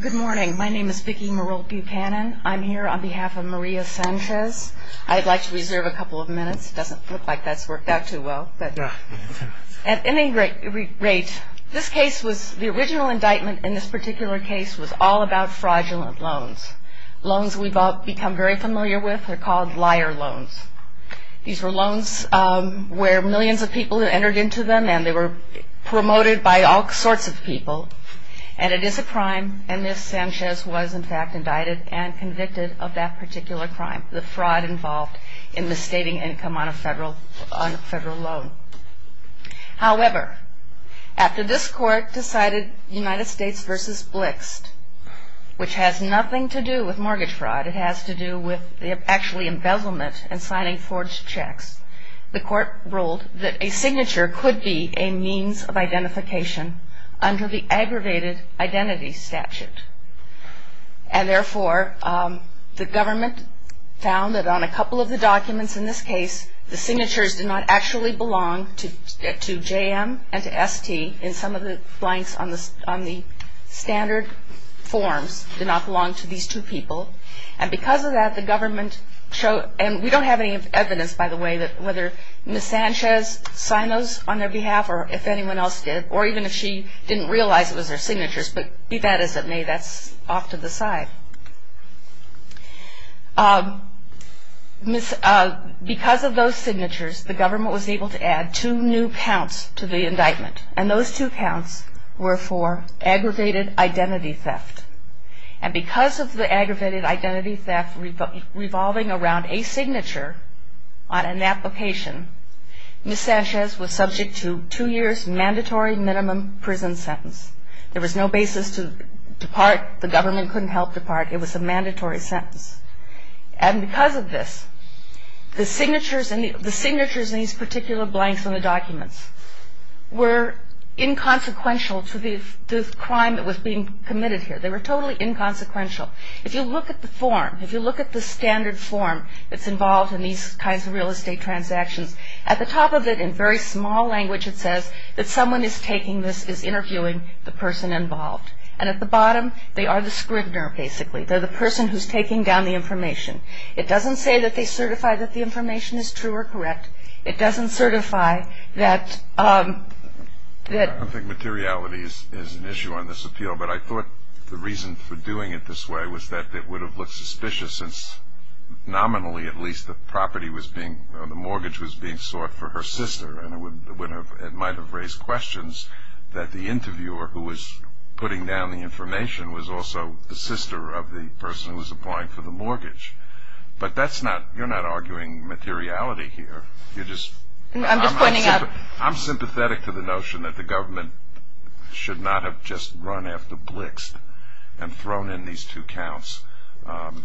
Good morning. My name is Vicki Marol Buchanan. I'm here on behalf of Maria Sanchez. I'd like to reserve a couple of minutes. It doesn't look like that's worked out too well. At any rate, this case was, the original indictment in this particular case was all about fraudulent loans. Loans we've all become very familiar with. They're called liar loans. These were loans where millions of people entered into them and they were promoted by all sorts of people and it is a crime and Ms. Sanchez was in fact indicted and convicted of that particular crime. The fraud involved in misstating income on a federal loan. However, after this court decided United States v. Blixt, which has nothing to do with mortgage fraud. It has to do with actually embezzlement and signing forged checks. The court ruled that a signature could be a means of identification under the aggravated identity statute. And therefore, the government found that on a couple of the documents in this case, the signatures did not actually belong to J.M. and to S.T. in some of the blanks on the standard forms did not belong to these two people. And because of that, the government showed, and we don't have any evidence by the way that whether Ms. Sanchez signed those on their behalf or if anyone else did or even if she didn't realize it was her signatures, but be that as it may, that's off to the side. Because of those signatures, the government was able to add two new counts to the indictment and those two counts were for aggravated identity theft. And because of the aggravated identity theft revolving around a signature on an application, Ms. Sanchez was subject to two years mandatory minimum prison sentence. There was no basis to depart. The government couldn't help depart. It was a mandatory sentence. And because of this, the signatures in these particular blanks on the documents were inconsequential to the crime that was being committed here. They were totally inconsequential. If you look at the form, if you look at the standard form that's involved in these kinds of real estate transactions, at the top of it in very small language it says that someone is taking this, is interviewing the person involved. And at the bottom, they are the scrivener basically. They're the person who's taking down the information. It doesn't say that they certify that the information is true or correct. It doesn't certify that I don't think materiality is an issue on this appeal, but I thought the reason for doing it this way was that it would have looked suspicious since nominally at least the property was being, the mortgage was being sought for her sister. And it would have, it might have raised questions that the interviewer who was putting down the information was also the sister of the person who was applying for the mortgage. But that's not, you're not arguing materiality here. I'm just pointing out. I'm sympathetic to the notion that the government should not have just run after Blixt and thrown in these two counts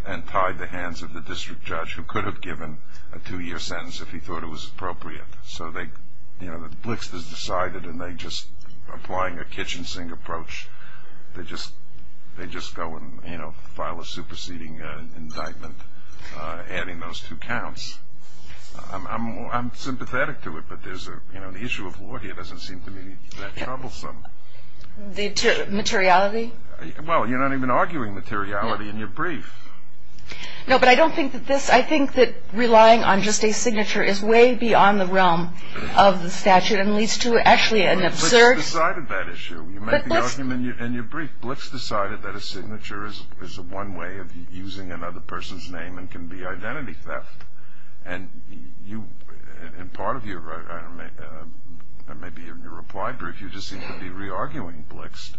and tied the hands of the district judge who could have given a two year sentence if he thought it was appropriate. So they, you know, Blixt is decided and they just, applying a kitchen sink approach, they just go and file a superseding indictment adding those two counts. I'm sympathetic to it, but there's a, you know, the issue of law here doesn't seem to me that troublesome. The materiality? Well, you're not even arguing materiality in your brief. No, but I don't think that this, I think that relying on just a signature is way beyond the realm of the statute and leads to actually an absurd. You make the argument in your brief, Blixt decided that a signature is one way of using another person's name and can be identity theft. And you, in part of your, maybe in your reply brief, you just seem to be re-arguing Blixt.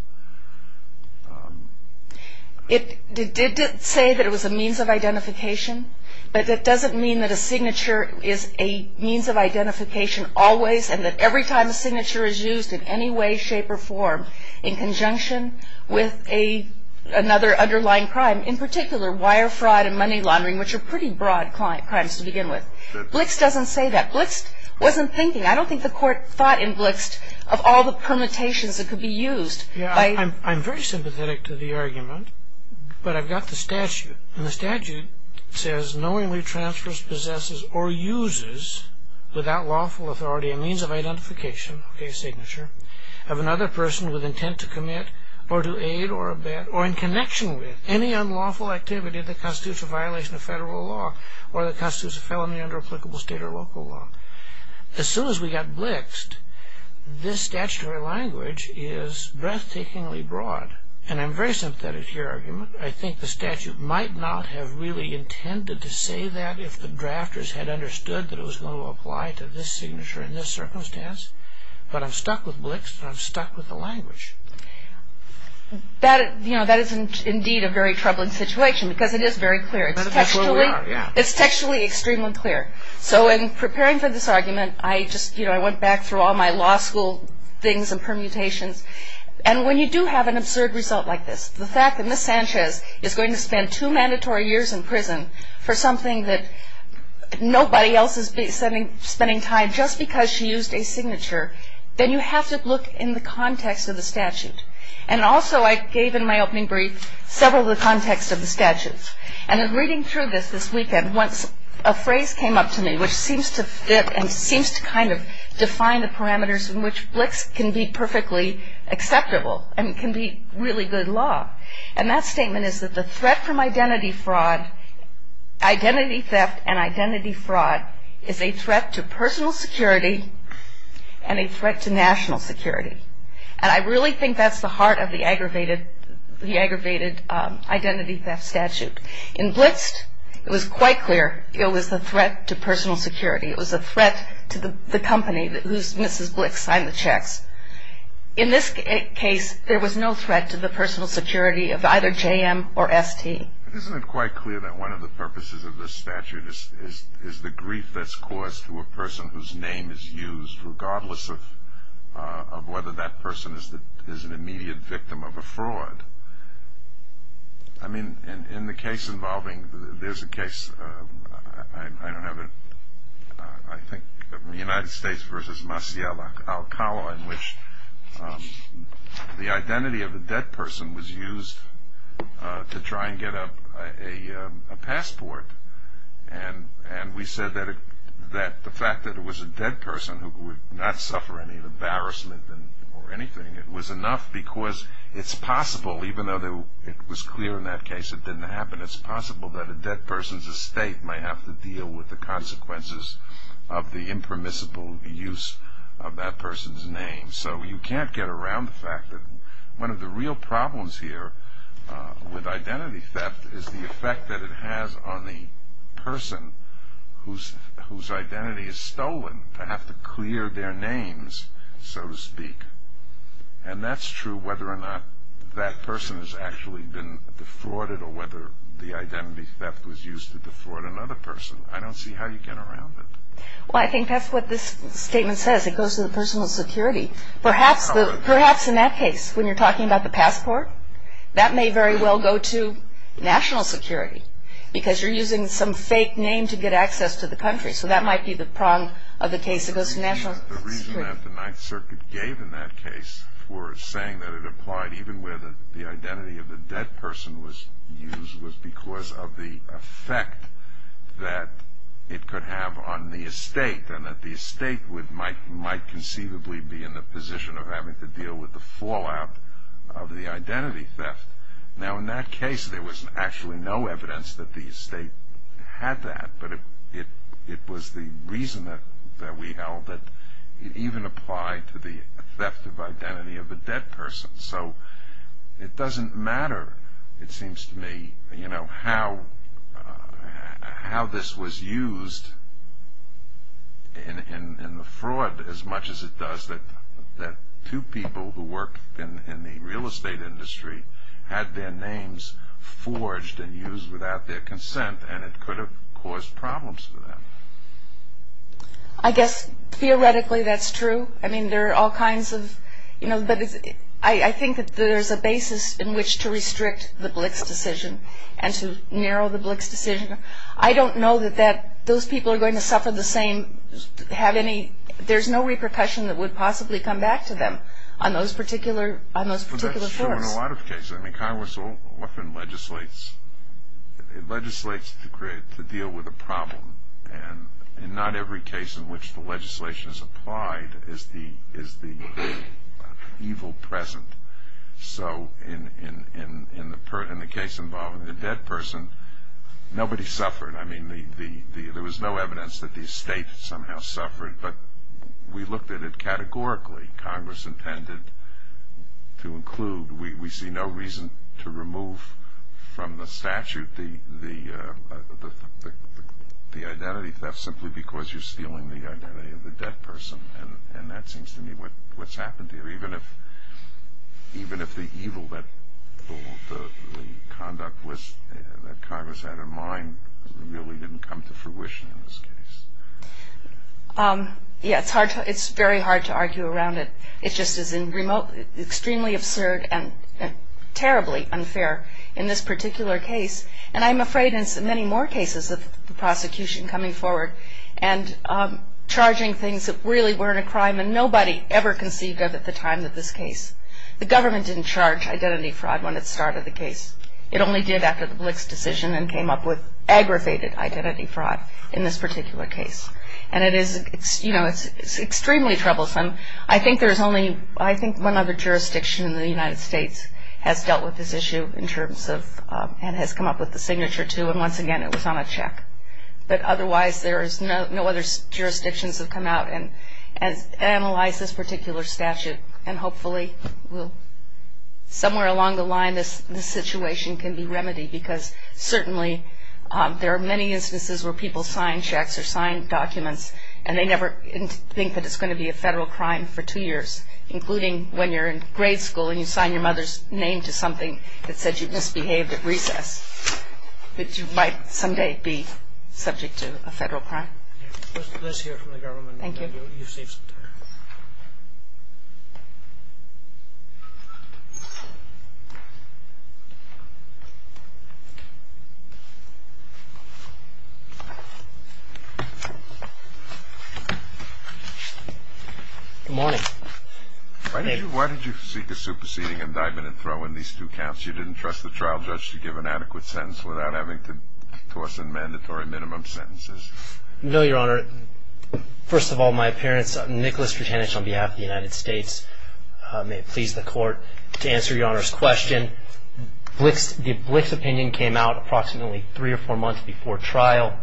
It did say that it was a means of identification, but that doesn't mean that a signature is a means of identification always and that every time a signature is used in any way, shape, or form in conjunction with another underlying crime, in particular wire fraud and money laundering, which are pretty broad crimes to begin with. Blixt doesn't say that. Blixt wasn't thinking. I don't think the court thought in Blixt of all the permutations that could be used. I'm very sympathetic to the argument, but I've got the statute. And the statute says, knowingly transfers, possesses, or uses without lawful authority a means of identification, a signature, of another person with intent to commit or to aid or abet or in connection with any unlawful activity that constitutes a violation of federal law or that constitutes a felony under applicable state or local law. As soon as we got Blixt, this statutory language is breathtakingly broad. And I'm very sympathetic to your argument. I think the statute might not have really intended to say that if the drafters had understood that it was going to apply to this signature in this circumstance. But I'm stuck with Blixt, and I'm stuck with the language. You know, that is indeed a very troubling situation because it is very clear. It's textually extremely clear. So in preparing for this argument, I just, you know, I went back through all my law school things and permutations. And when you do have an absurd result like this, the fact that Ms. Sanchez is going to spend two mandatory years in prison for something that nobody else is spending time just because she used a signature, then you have to look in the context of the statute. And also I gave in my opening brief several of the contexts of the statutes. And in reading through this this weekend, a phrase came up to me which seems to fit and seems to kind of define the parameters in which Blixt can be perfectly acceptable and can be really good law. And that statement is that the threat from identity fraud, identity theft and identity fraud is a threat to personal security and a threat to national security. And I really think that's the heart of the aggravated identity theft statute. In Blixt, it was quite clear it was a threat to personal security. It was a threat to the company whose Mrs. Blixt signed the checks. In this case, there was no threat to the personal security of either JM or ST. Isn't it quite clear that one of the purposes of this statute is the grief that's caused to a person whose name is used regardless of whether that person is an immediate victim of a fraud? I mean, in the case involving, there's a case, I don't have it, I think the United States versus Masial Alcala in which the identity of a dead person was used to try and get a passport. And we said that the fact that it was a dead person who would not suffer any embarrassment or anything, it was enough because it's possible, even though it was clear in that case it didn't happen, it's possible that a dead person's estate might have to deal with the consequences of the impermissible use of that person's name. And so you can't get around the fact that one of the real problems here with identity theft is the effect that it has on the person whose identity is stolen to have to clear their names, so to speak. And that's true whether or not that person has actually been defrauded or whether the identity theft was used to defraud another person. I don't see how you get around it. Well, I think that's what this statement says. It goes to the personal security. Perhaps in that case, when you're talking about the passport, that may very well go to national security because you're using some fake name to get access to the country. So that might be the prong of the case that goes to national security. The reason that the Ninth Circuit gave in that case for saying that it applied even where the identity of the dead person was used was because of the effect that it could have on the estate and that the estate might conceivably be in the position of having to deal with the fallout of the identity theft. Now, in that case, there was actually no evidence that the estate had that, but it was the reason that we held that it even applied to the theft of identity of a dead person. So it doesn't matter, it seems to me, how this was used in the fraud as much as it does that two people who worked in the real estate industry had their names forged and used without their consent and it could have caused problems for them. I guess theoretically that's true. I mean, there are all kinds of, you know, but I think that there's a basis in which to restrict the Blix decision and to narrow the Blix decision. I don't know that those people are going to suffer the same, have any, there's no repercussion that would possibly come back to them on those particular courts. That's true in a lot of cases. I mean, Congress often legislates to deal with a problem and not every case in which the legislation is applied is the evil present. So in the case involving the dead person, nobody suffered. I mean, there was no evidence that the estate somehow suffered, but we looked at it categorically. Congress intended to include, we see no reason to remove from the statute the identity theft simply because you're stealing the identity of the dead person. And that seems to me what's happened here, even if the evil that the conduct was that Congress had in mind really didn't come to fruition in this case. Yeah, it's hard to, it's very hard to argue around it. It just is in remote, extremely absurd and terribly unfair in this particular case. And I'm afraid in many more cases of the prosecution coming forward and charging things that really weren't a crime and nobody ever conceived of at the time of this case. The government didn't charge identity fraud when it started the case. It only did after the Blix decision and came up with aggravated identity fraud in this particular case. And it is, it's, you know, it's extremely troublesome. I think there's only, I think one other jurisdiction in the United States has dealt with this issue in terms of, and has come up with the signature to, and once again it was on a check. But otherwise there is no other jurisdictions have come out and analyzed this particular statute. And hopefully we'll, somewhere along the line this situation can be remedied because certainly there are many instances where people sign checks or sign documents and they never think that it's going to be a federal crime for two years. Including when you're in grade school and you sign your mother's name to something that said you misbehaved at recess. That you might someday be subject to a federal crime. Let's hear from the government. Thank you. Good morning. Why did you seek a superseding indictment and throw in these two counts? You didn't trust the trial judge to give an adequate sentence without having to toss in mandatory minimum sentences. No, Your Honor. First of all, my parents, Nicholas Drutanich, on behalf of the United States, may it please the court to answer Your Honor's question. Blix, the Blix opinion came out approximately three or four months before trial.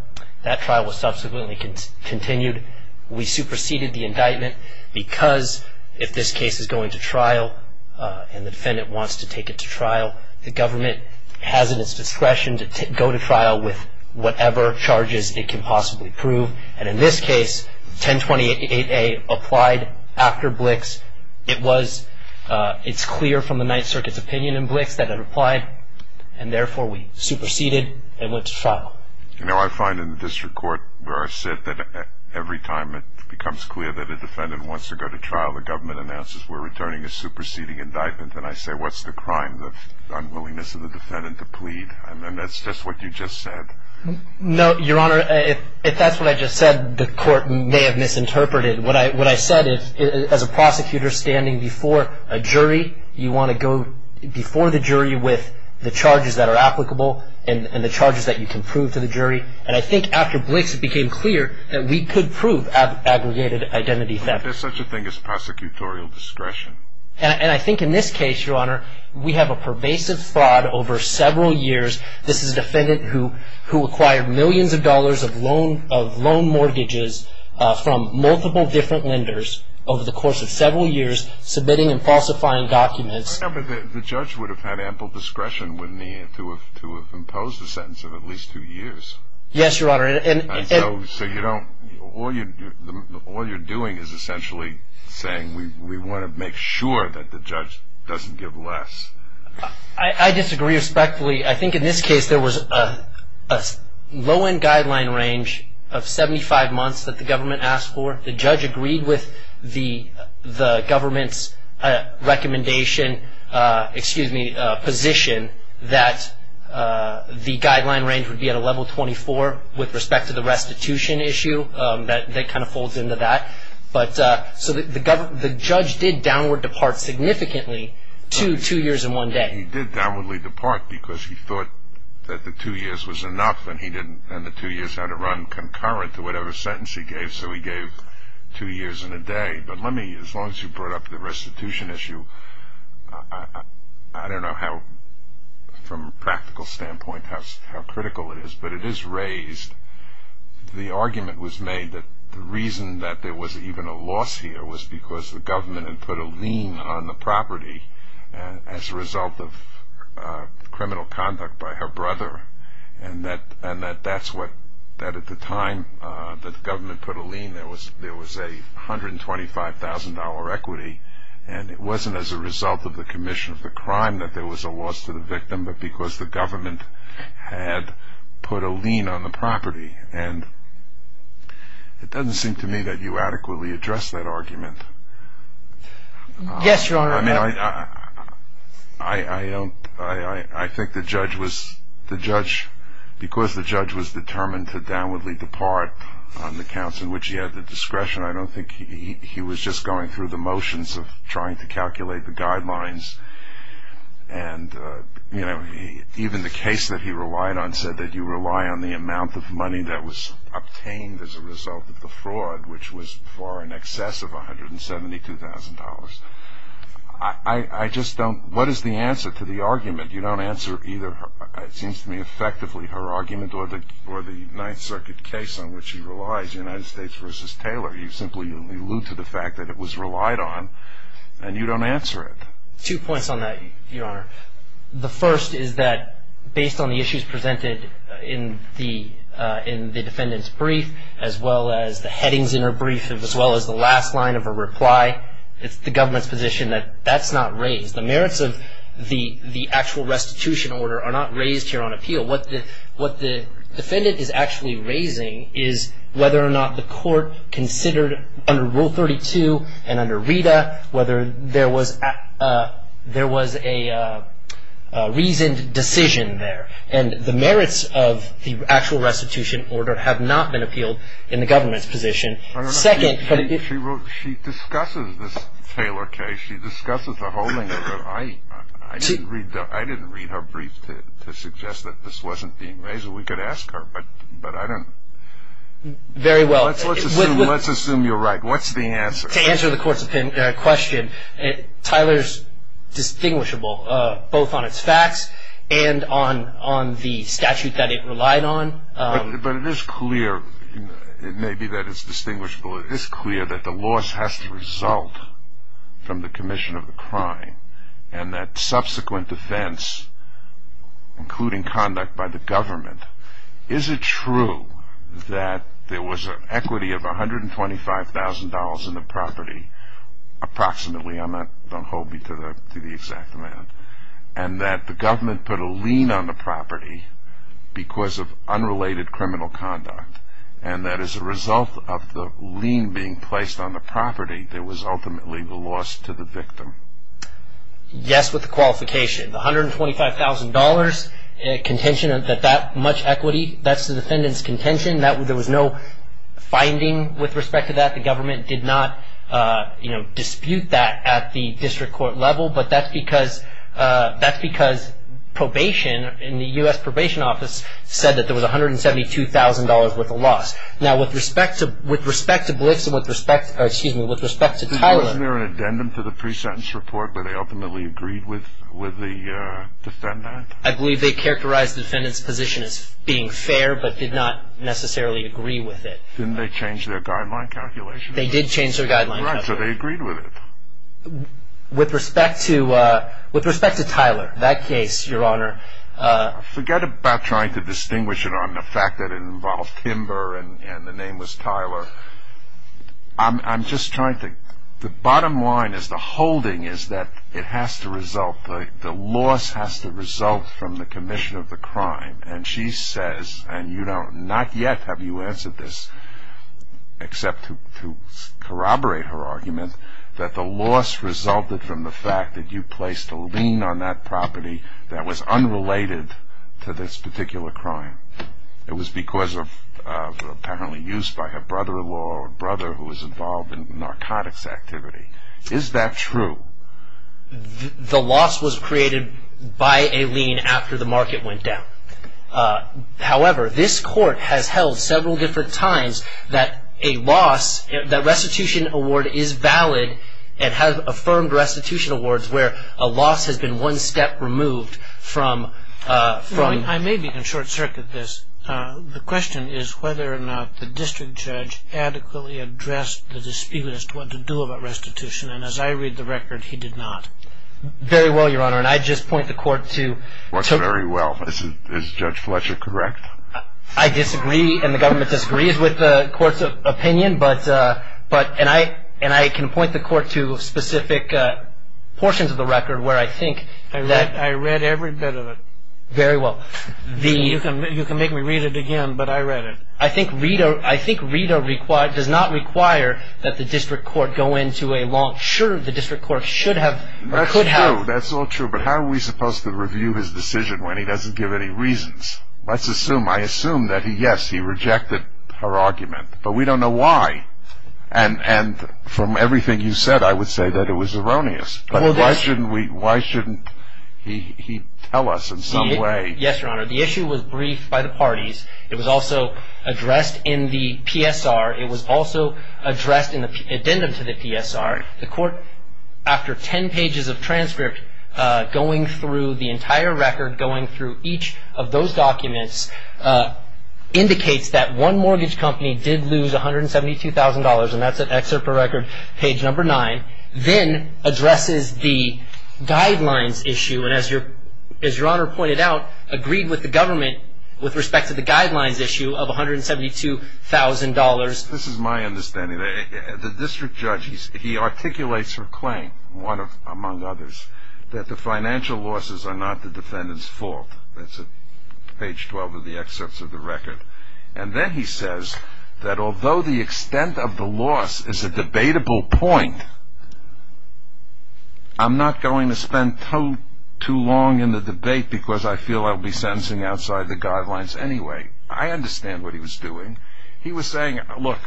That trial was subsequently continued. We superseded the indictment because if this case is going to trial and the defendant wants to take it to trial, the government has at its discretion to go to trial with whatever charges it can possibly prove. And in this case, 1028A applied after Blix. It was, it's clear from the Ninth Circuit's opinion in Blix that it applied and therefore we superseded and went to trial. You know, I find in the district court where I sit that every time it becomes clear that a defendant wants to go to trial, the government announces we're returning a superseding indictment. And I say what's the crime, the unwillingness of the defendant to plead? And that's just what you just said. No, Your Honor, if that's what I just said, the court may have misinterpreted. You want to go before the jury with the charges that are applicable and the charges that you can prove to the jury. And I think after Blix it became clear that we could prove aggregated identity theft. There's such a thing as prosecutorial discretion. And I think in this case, Your Honor, we have a pervasive fraud over several years. This is a defendant who acquired millions of dollars of loan mortgages from multiple different lenders over the course of several years, submitting and falsifying documents. I remember the judge would have had ample discretion to have imposed a sentence of at least two years. Yes, Your Honor. So all you're doing is essentially saying we want to make sure that the judge doesn't give less. I disagree respectfully. I think in this case there was a low-end guideline range of 75 months that the government asked for. The judge agreed with the government's recommendation, excuse me, position, that the guideline range would be at a level 24 with respect to the restitution issue. That kind of folds into that. So the judge did downward depart significantly to two years and one day. He did downwardly depart because he thought that the two years was enough and the two years had to run concurrent to whatever sentence he gave. So he gave two years and a day. But let me, as long as you brought up the restitution issue, I don't know how, from a practical standpoint, how critical it is, but it is raised. The argument was made that the reason that there was even a loss here was because the government had put a lien on the property as a result of criminal conduct by her brother, and that at the time that the government put a lien there was a $125,000 equity, and it wasn't as a result of the commission of the crime that there was a loss to the victim, but because the government had put a lien on the property. And it doesn't seem to me that you adequately address that argument. Yes, Your Honor. I mean, I don't, I think the judge was, the judge, because the judge was determined to downwardly depart on the counts in which he had the discretion, I don't think he was just going through the motions of trying to calculate the guidelines. And, you know, even the case that he relied on said that you rely on the amount of money that was obtained as a result of the fraud, which was far in excess of $172,000. I just don't, what is the answer to the argument? You don't answer either, it seems to me effectively, her argument or the Ninth Circuit case on which he relies, United States v. Taylor. You simply allude to the fact that it was relied on, and you don't answer it. Two points on that, Your Honor. The first is that based on the issues presented in the defendant's brief, as well as the headings in her brief, as well as the last line of her reply, it's the government's position that that's not raised. The merits of the actual restitution order are not raised here on appeal. What the defendant is actually raising is whether or not the court considered under Rule 32 and under Rita whether there was a reasoned decision there. And the merits of the actual restitution order have not been appealed in the government's position. I don't know if she wrote, she discusses this Taylor case, she discusses the whole thing. I didn't read her brief to suggest that this wasn't being raised. We could ask her, but I don't know. Very well. Let's assume you're right. What's the answer? To answer the court's question, Taylor's distinguishable both on its facts and on the statute that it relied on. But it is clear, it may be that it's distinguishable, it is clear that the loss has to result from the commission of the crime, and that subsequent defense, including conduct by the government, is it true that there was an equity of $125,000 in the property approximately? Don't hold me to the exact amount. And that the government put a lien on the property because of unrelated criminal conduct, and that as a result of the lien being placed on the property, there was ultimately the loss to the victim? Yes, with the qualification. The $125,000 contention, that that much equity, that's the defendant's contention. There was no finding with respect to that. The government did not dispute that at the district court level, but that's because probation in the U.S. Probation Office said that there was $172,000 worth of loss. Now, with respect to Blitz and with respect to Taylor. Wasn't there an addendum to the pre-sentence report where they ultimately agreed with the defendant? I believe they characterized the defendant's position as being fair, but did not necessarily agree with it. Didn't they change their guideline calculation? They did change their guideline calculation. Right, so they agreed with it. With respect to Tyler, that case, Your Honor. Forget about trying to distinguish it on the fact that it involved Timber and the name was Tyler. I'm just trying to, the bottom line is the holding is that it has to result, the loss has to result from the commission of the crime. And she says, and you don't, not yet have you answered this, except to corroborate her argument, that the loss resulted from the fact that you placed a lien on that property that was unrelated to this particular crime. It was because of apparently use by her brother-in-law or brother who was involved in narcotics activity. Is that true? The loss was created by a lien after the market went down. However, this court has held several different times that a loss, that restitution award is valid and has affirmed restitution awards where a loss has been one step removed from. I may be in short circuit this. The question is whether or not the district judge adequately addressed the dispute as to what to do about restitution, and as I read the record, he did not. Very well, Your Honor, and I just point the court to. What's very well? Is Judge Fletcher correct? I disagree and the government disagrees with the court's opinion, and I can point the court to specific portions of the record where I think. I read every bit of it. Very well. You can make me read it again, but I read it. I think Rito does not require that the district court go into a long. Sure, the district court should have or could have. That's all true, but how are we supposed to review his decision when he doesn't give any reasons? Let's assume, I assume that yes, he rejected her argument, but we don't know why, and from everything you said, I would say that it was erroneous. Why shouldn't he tell us in some way? Yes, Your Honor. The issue was briefed by the parties. It was also addressed in the PSR. It was also addressed in the addendum to the PSR. The court, after ten pages of transcript going through the entire record, going through each of those documents, indicates that one mortgage company did lose $172,000, and that's an excerpt from record page number nine, then addresses the guidelines issue. And as Your Honor pointed out, agreed with the government with respect to the guidelines issue of $172,000. This is my understanding. The district judge, he articulates her claim, one among others, that the financial losses are not the defendant's fault. That's at page 12 of the excerpts of the record. And then he says that although the extent of the loss is a debatable point, I'm not going to spend too long in the debate because I feel I'll be sentencing outside the guidelines anyway. I understand what he was doing. He was saying, look,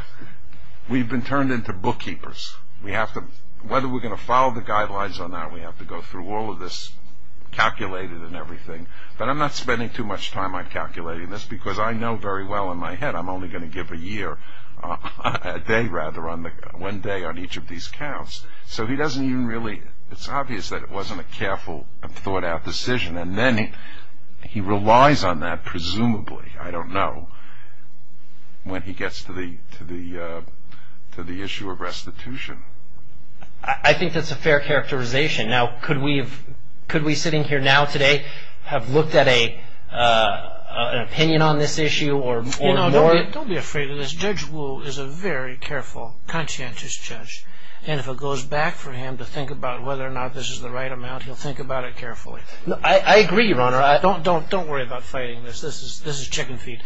we've been turned into bookkeepers. Whether we're going to follow the guidelines or not, we have to go through all of this calculated and everything. But I'm not spending too much time on calculating this because I know very well in my head I'm only going to give a year, a day rather, one day on each of these counts. So he doesn't even really, it's obvious that it wasn't a careful and thought-out decision. And then he relies on that presumably, I don't know, when he gets to the issue of restitution. I think that's a fair characterization. Now, could we sitting here now today have looked at an opinion on this issue or more? Don't be afraid of this. Judge Wu is a very careful, conscientious judge. And if it goes back for him to think about whether or not this is the right amount, he'll think about it carefully. I agree, Your Honor. Don't worry about fighting this. This is chicken feed.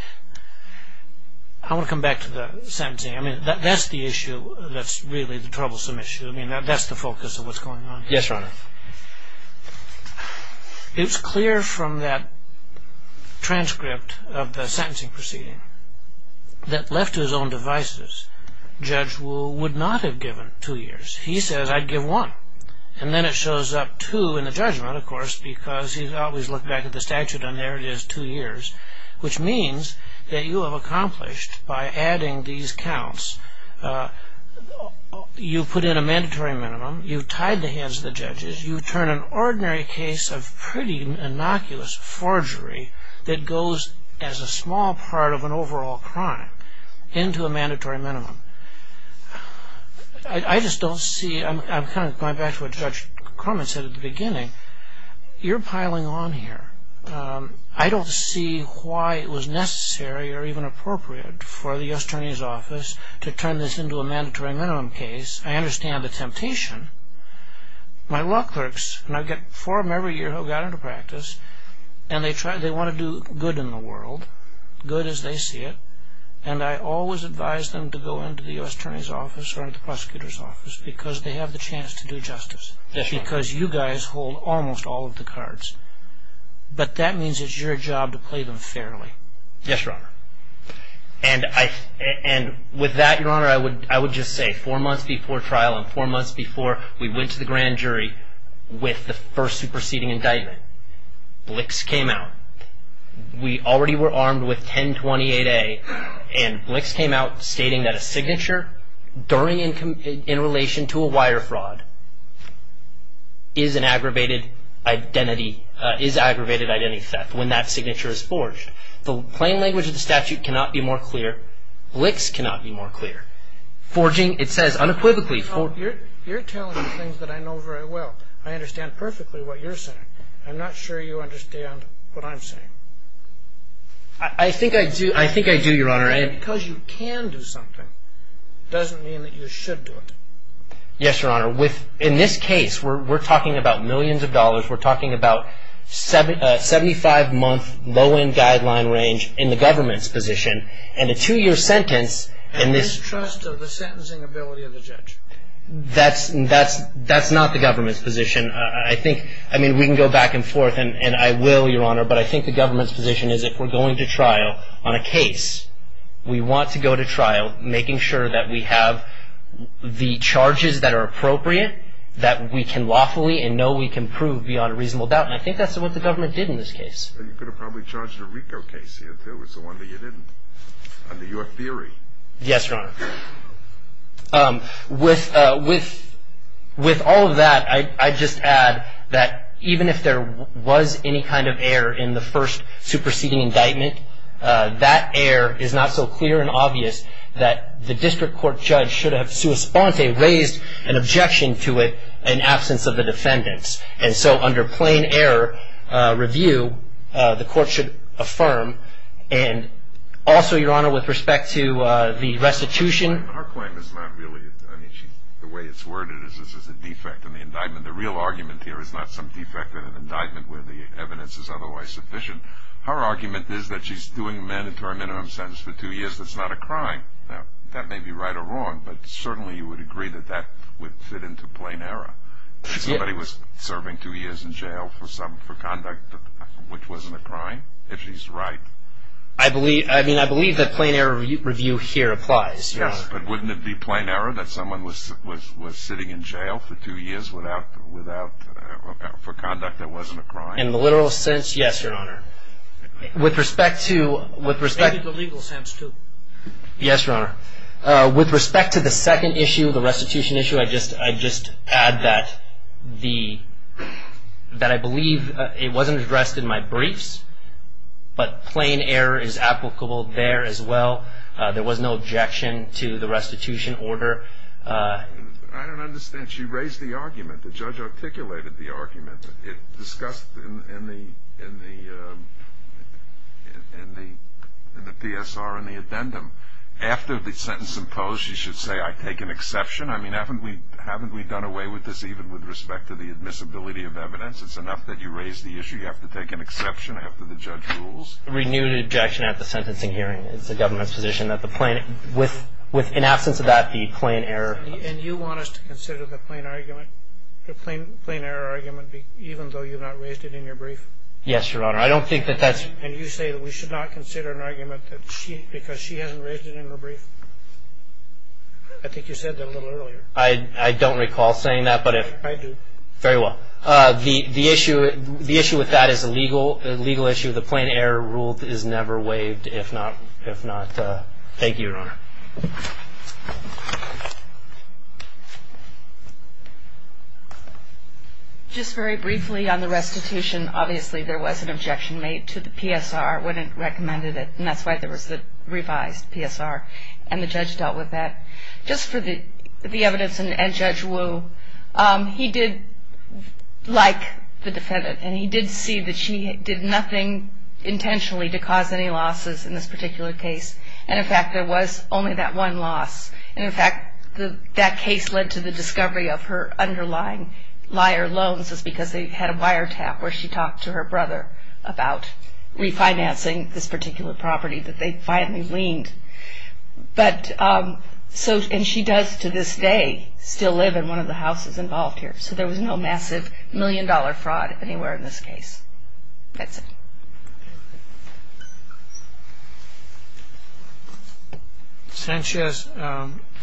I want to come back to the sentencing. That's the issue that's really the troublesome issue. I mean, that's the focus of what's going on here. Yes, Your Honor. It's clear from that transcript of the sentencing proceeding that left to his own devices, Judge Wu would not have given two years. He says, I'd give one. And then it shows up two in the judgment, of course, because he's always looked back at the statute and there it is, two years, which means that you have accomplished by adding these counts, you put in a mandatory minimum, you've tied the hands of the judges, you turn an ordinary case of pretty innocuous forgery that goes as a small part of an overall crime into a mandatory minimum. I just don't see – I'm kind of going back to what Judge Crummett said at the beginning. You're piling on here. I don't see why it was necessary or even appropriate for the U.S. Attorney's Office to turn this into a mandatory minimum case. I understand the temptation. My law clerks, and I get four of them every year who got into practice, and they want to do good in the world, good as they see it, and I always advise them to go into the U.S. Attorney's Office or the Prosecutor's Office because they have the chance to do justice because you guys hold almost all of the cards. But that means it's your job to play them fairly. Yes, Your Honor. And with that, Your Honor, I would just say four months before trial and four months before we went to the grand jury with the first superseding indictment, blicks came out. We already were armed with 1028A, and blicks came out stating that a signature in relation to a wire fraud is an aggravated identity theft when that signature is forged. The plain language of the statute cannot be more clear. Blicks cannot be more clear. Forging, it says unequivocally. You're telling me things that I know very well. I understand perfectly what you're saying. I'm not sure you understand what I'm saying. I think I do, Your Honor. Because you can do something doesn't mean that you should do it. Yes, Your Honor. In this case, we're talking about millions of dollars. We're talking about 75-month low-end guideline range in the government's position, and a two-year sentence in this case. And mistrust of the sentencing ability of the judge. That's not the government's position. I mean, we can go back and forth, and I will, Your Honor, but I think the government's position is if we're going to trial on a case, we want to go to trial making sure that we have the charges that are appropriate, that we can lawfully and know we can prove beyond a reasonable doubt. And I think that's what the government did in this case. And you could have probably charged a RICO case if there was one that you didn't, under your theory. Yes, Your Honor. With all of that, I'd just add that even if there was any kind of error in the first superseding indictment, that error is not so clear and obvious that the district court judge should have, in response, raised an objection to it in absence of the defendants. And so under plain error review, the court should affirm. And also, Your Honor, with respect to the restitution. Her claim is not really, I mean, the way it's worded is this is a defect in the indictment. The real argument here is not some defect in an indictment where the evidence is otherwise sufficient. Her argument is that she's doing a mandatory minimum sentence for two years. That's not a crime. That may be right or wrong, but certainly you would agree that that would fit into plain error. If somebody was serving two years in jail for conduct which wasn't a crime, if she's right. I mean, I believe that plain error review here applies, Your Honor. Yes, but wouldn't it be plain error that someone was sitting in jail for two years for conduct that wasn't a crime? In the literal sense, yes, Your Honor. With respect to the legal sense, too. Yes, Your Honor. With respect to the second issue, the restitution issue, I'd just add that I believe it wasn't addressed in my briefs. But plain error is applicable there as well. There was no objection to the restitution order. I don't understand. She raised the argument. The judge articulated the argument. It's discussed in the PSR and the addendum. After the sentence imposed, you should say, I take an exception. I mean, haven't we done away with this even with respect to the admissibility of evidence? It's enough that you raised the issue. You have to take an exception after the judge rules. Renewed objection at the sentencing hearing is the government's position that the plain, with, in absence of that, the plain error. And you want us to consider the plain argument, the plain error argument, even though you've not raised it in your brief? Yes, Your Honor. I don't think that that's. And you say that we should not consider an argument because she hasn't raised it in her brief? I think you said that a little earlier. I don't recall saying that, but if. I do. Very well. The issue with that is a legal issue. The plain error rule is never waived, if not. Thank you, Your Honor. Just very briefly on the restitution. Obviously, there was an objection made to the PSR when it recommended it, and that's why there was the revised PSR. And the judge dealt with that. Just for the evidence, and Judge Wu, he did like the defendant, and he did see that she did nothing intentionally to cause any losses in this particular case. And, in fact, there was only that one loss. And, in fact, that case led to the discovery of her underlying liar loans, just because they had a wiretap where she talked to her brother about refinancing this particular property that they finally gleaned. But, and she does, to this day, still live in one of the houses involved here. So there was no massive million dollar fraud anywhere in this case. That's it. Sanchez,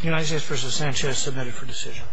United States v. Sanchez, submitted for decision.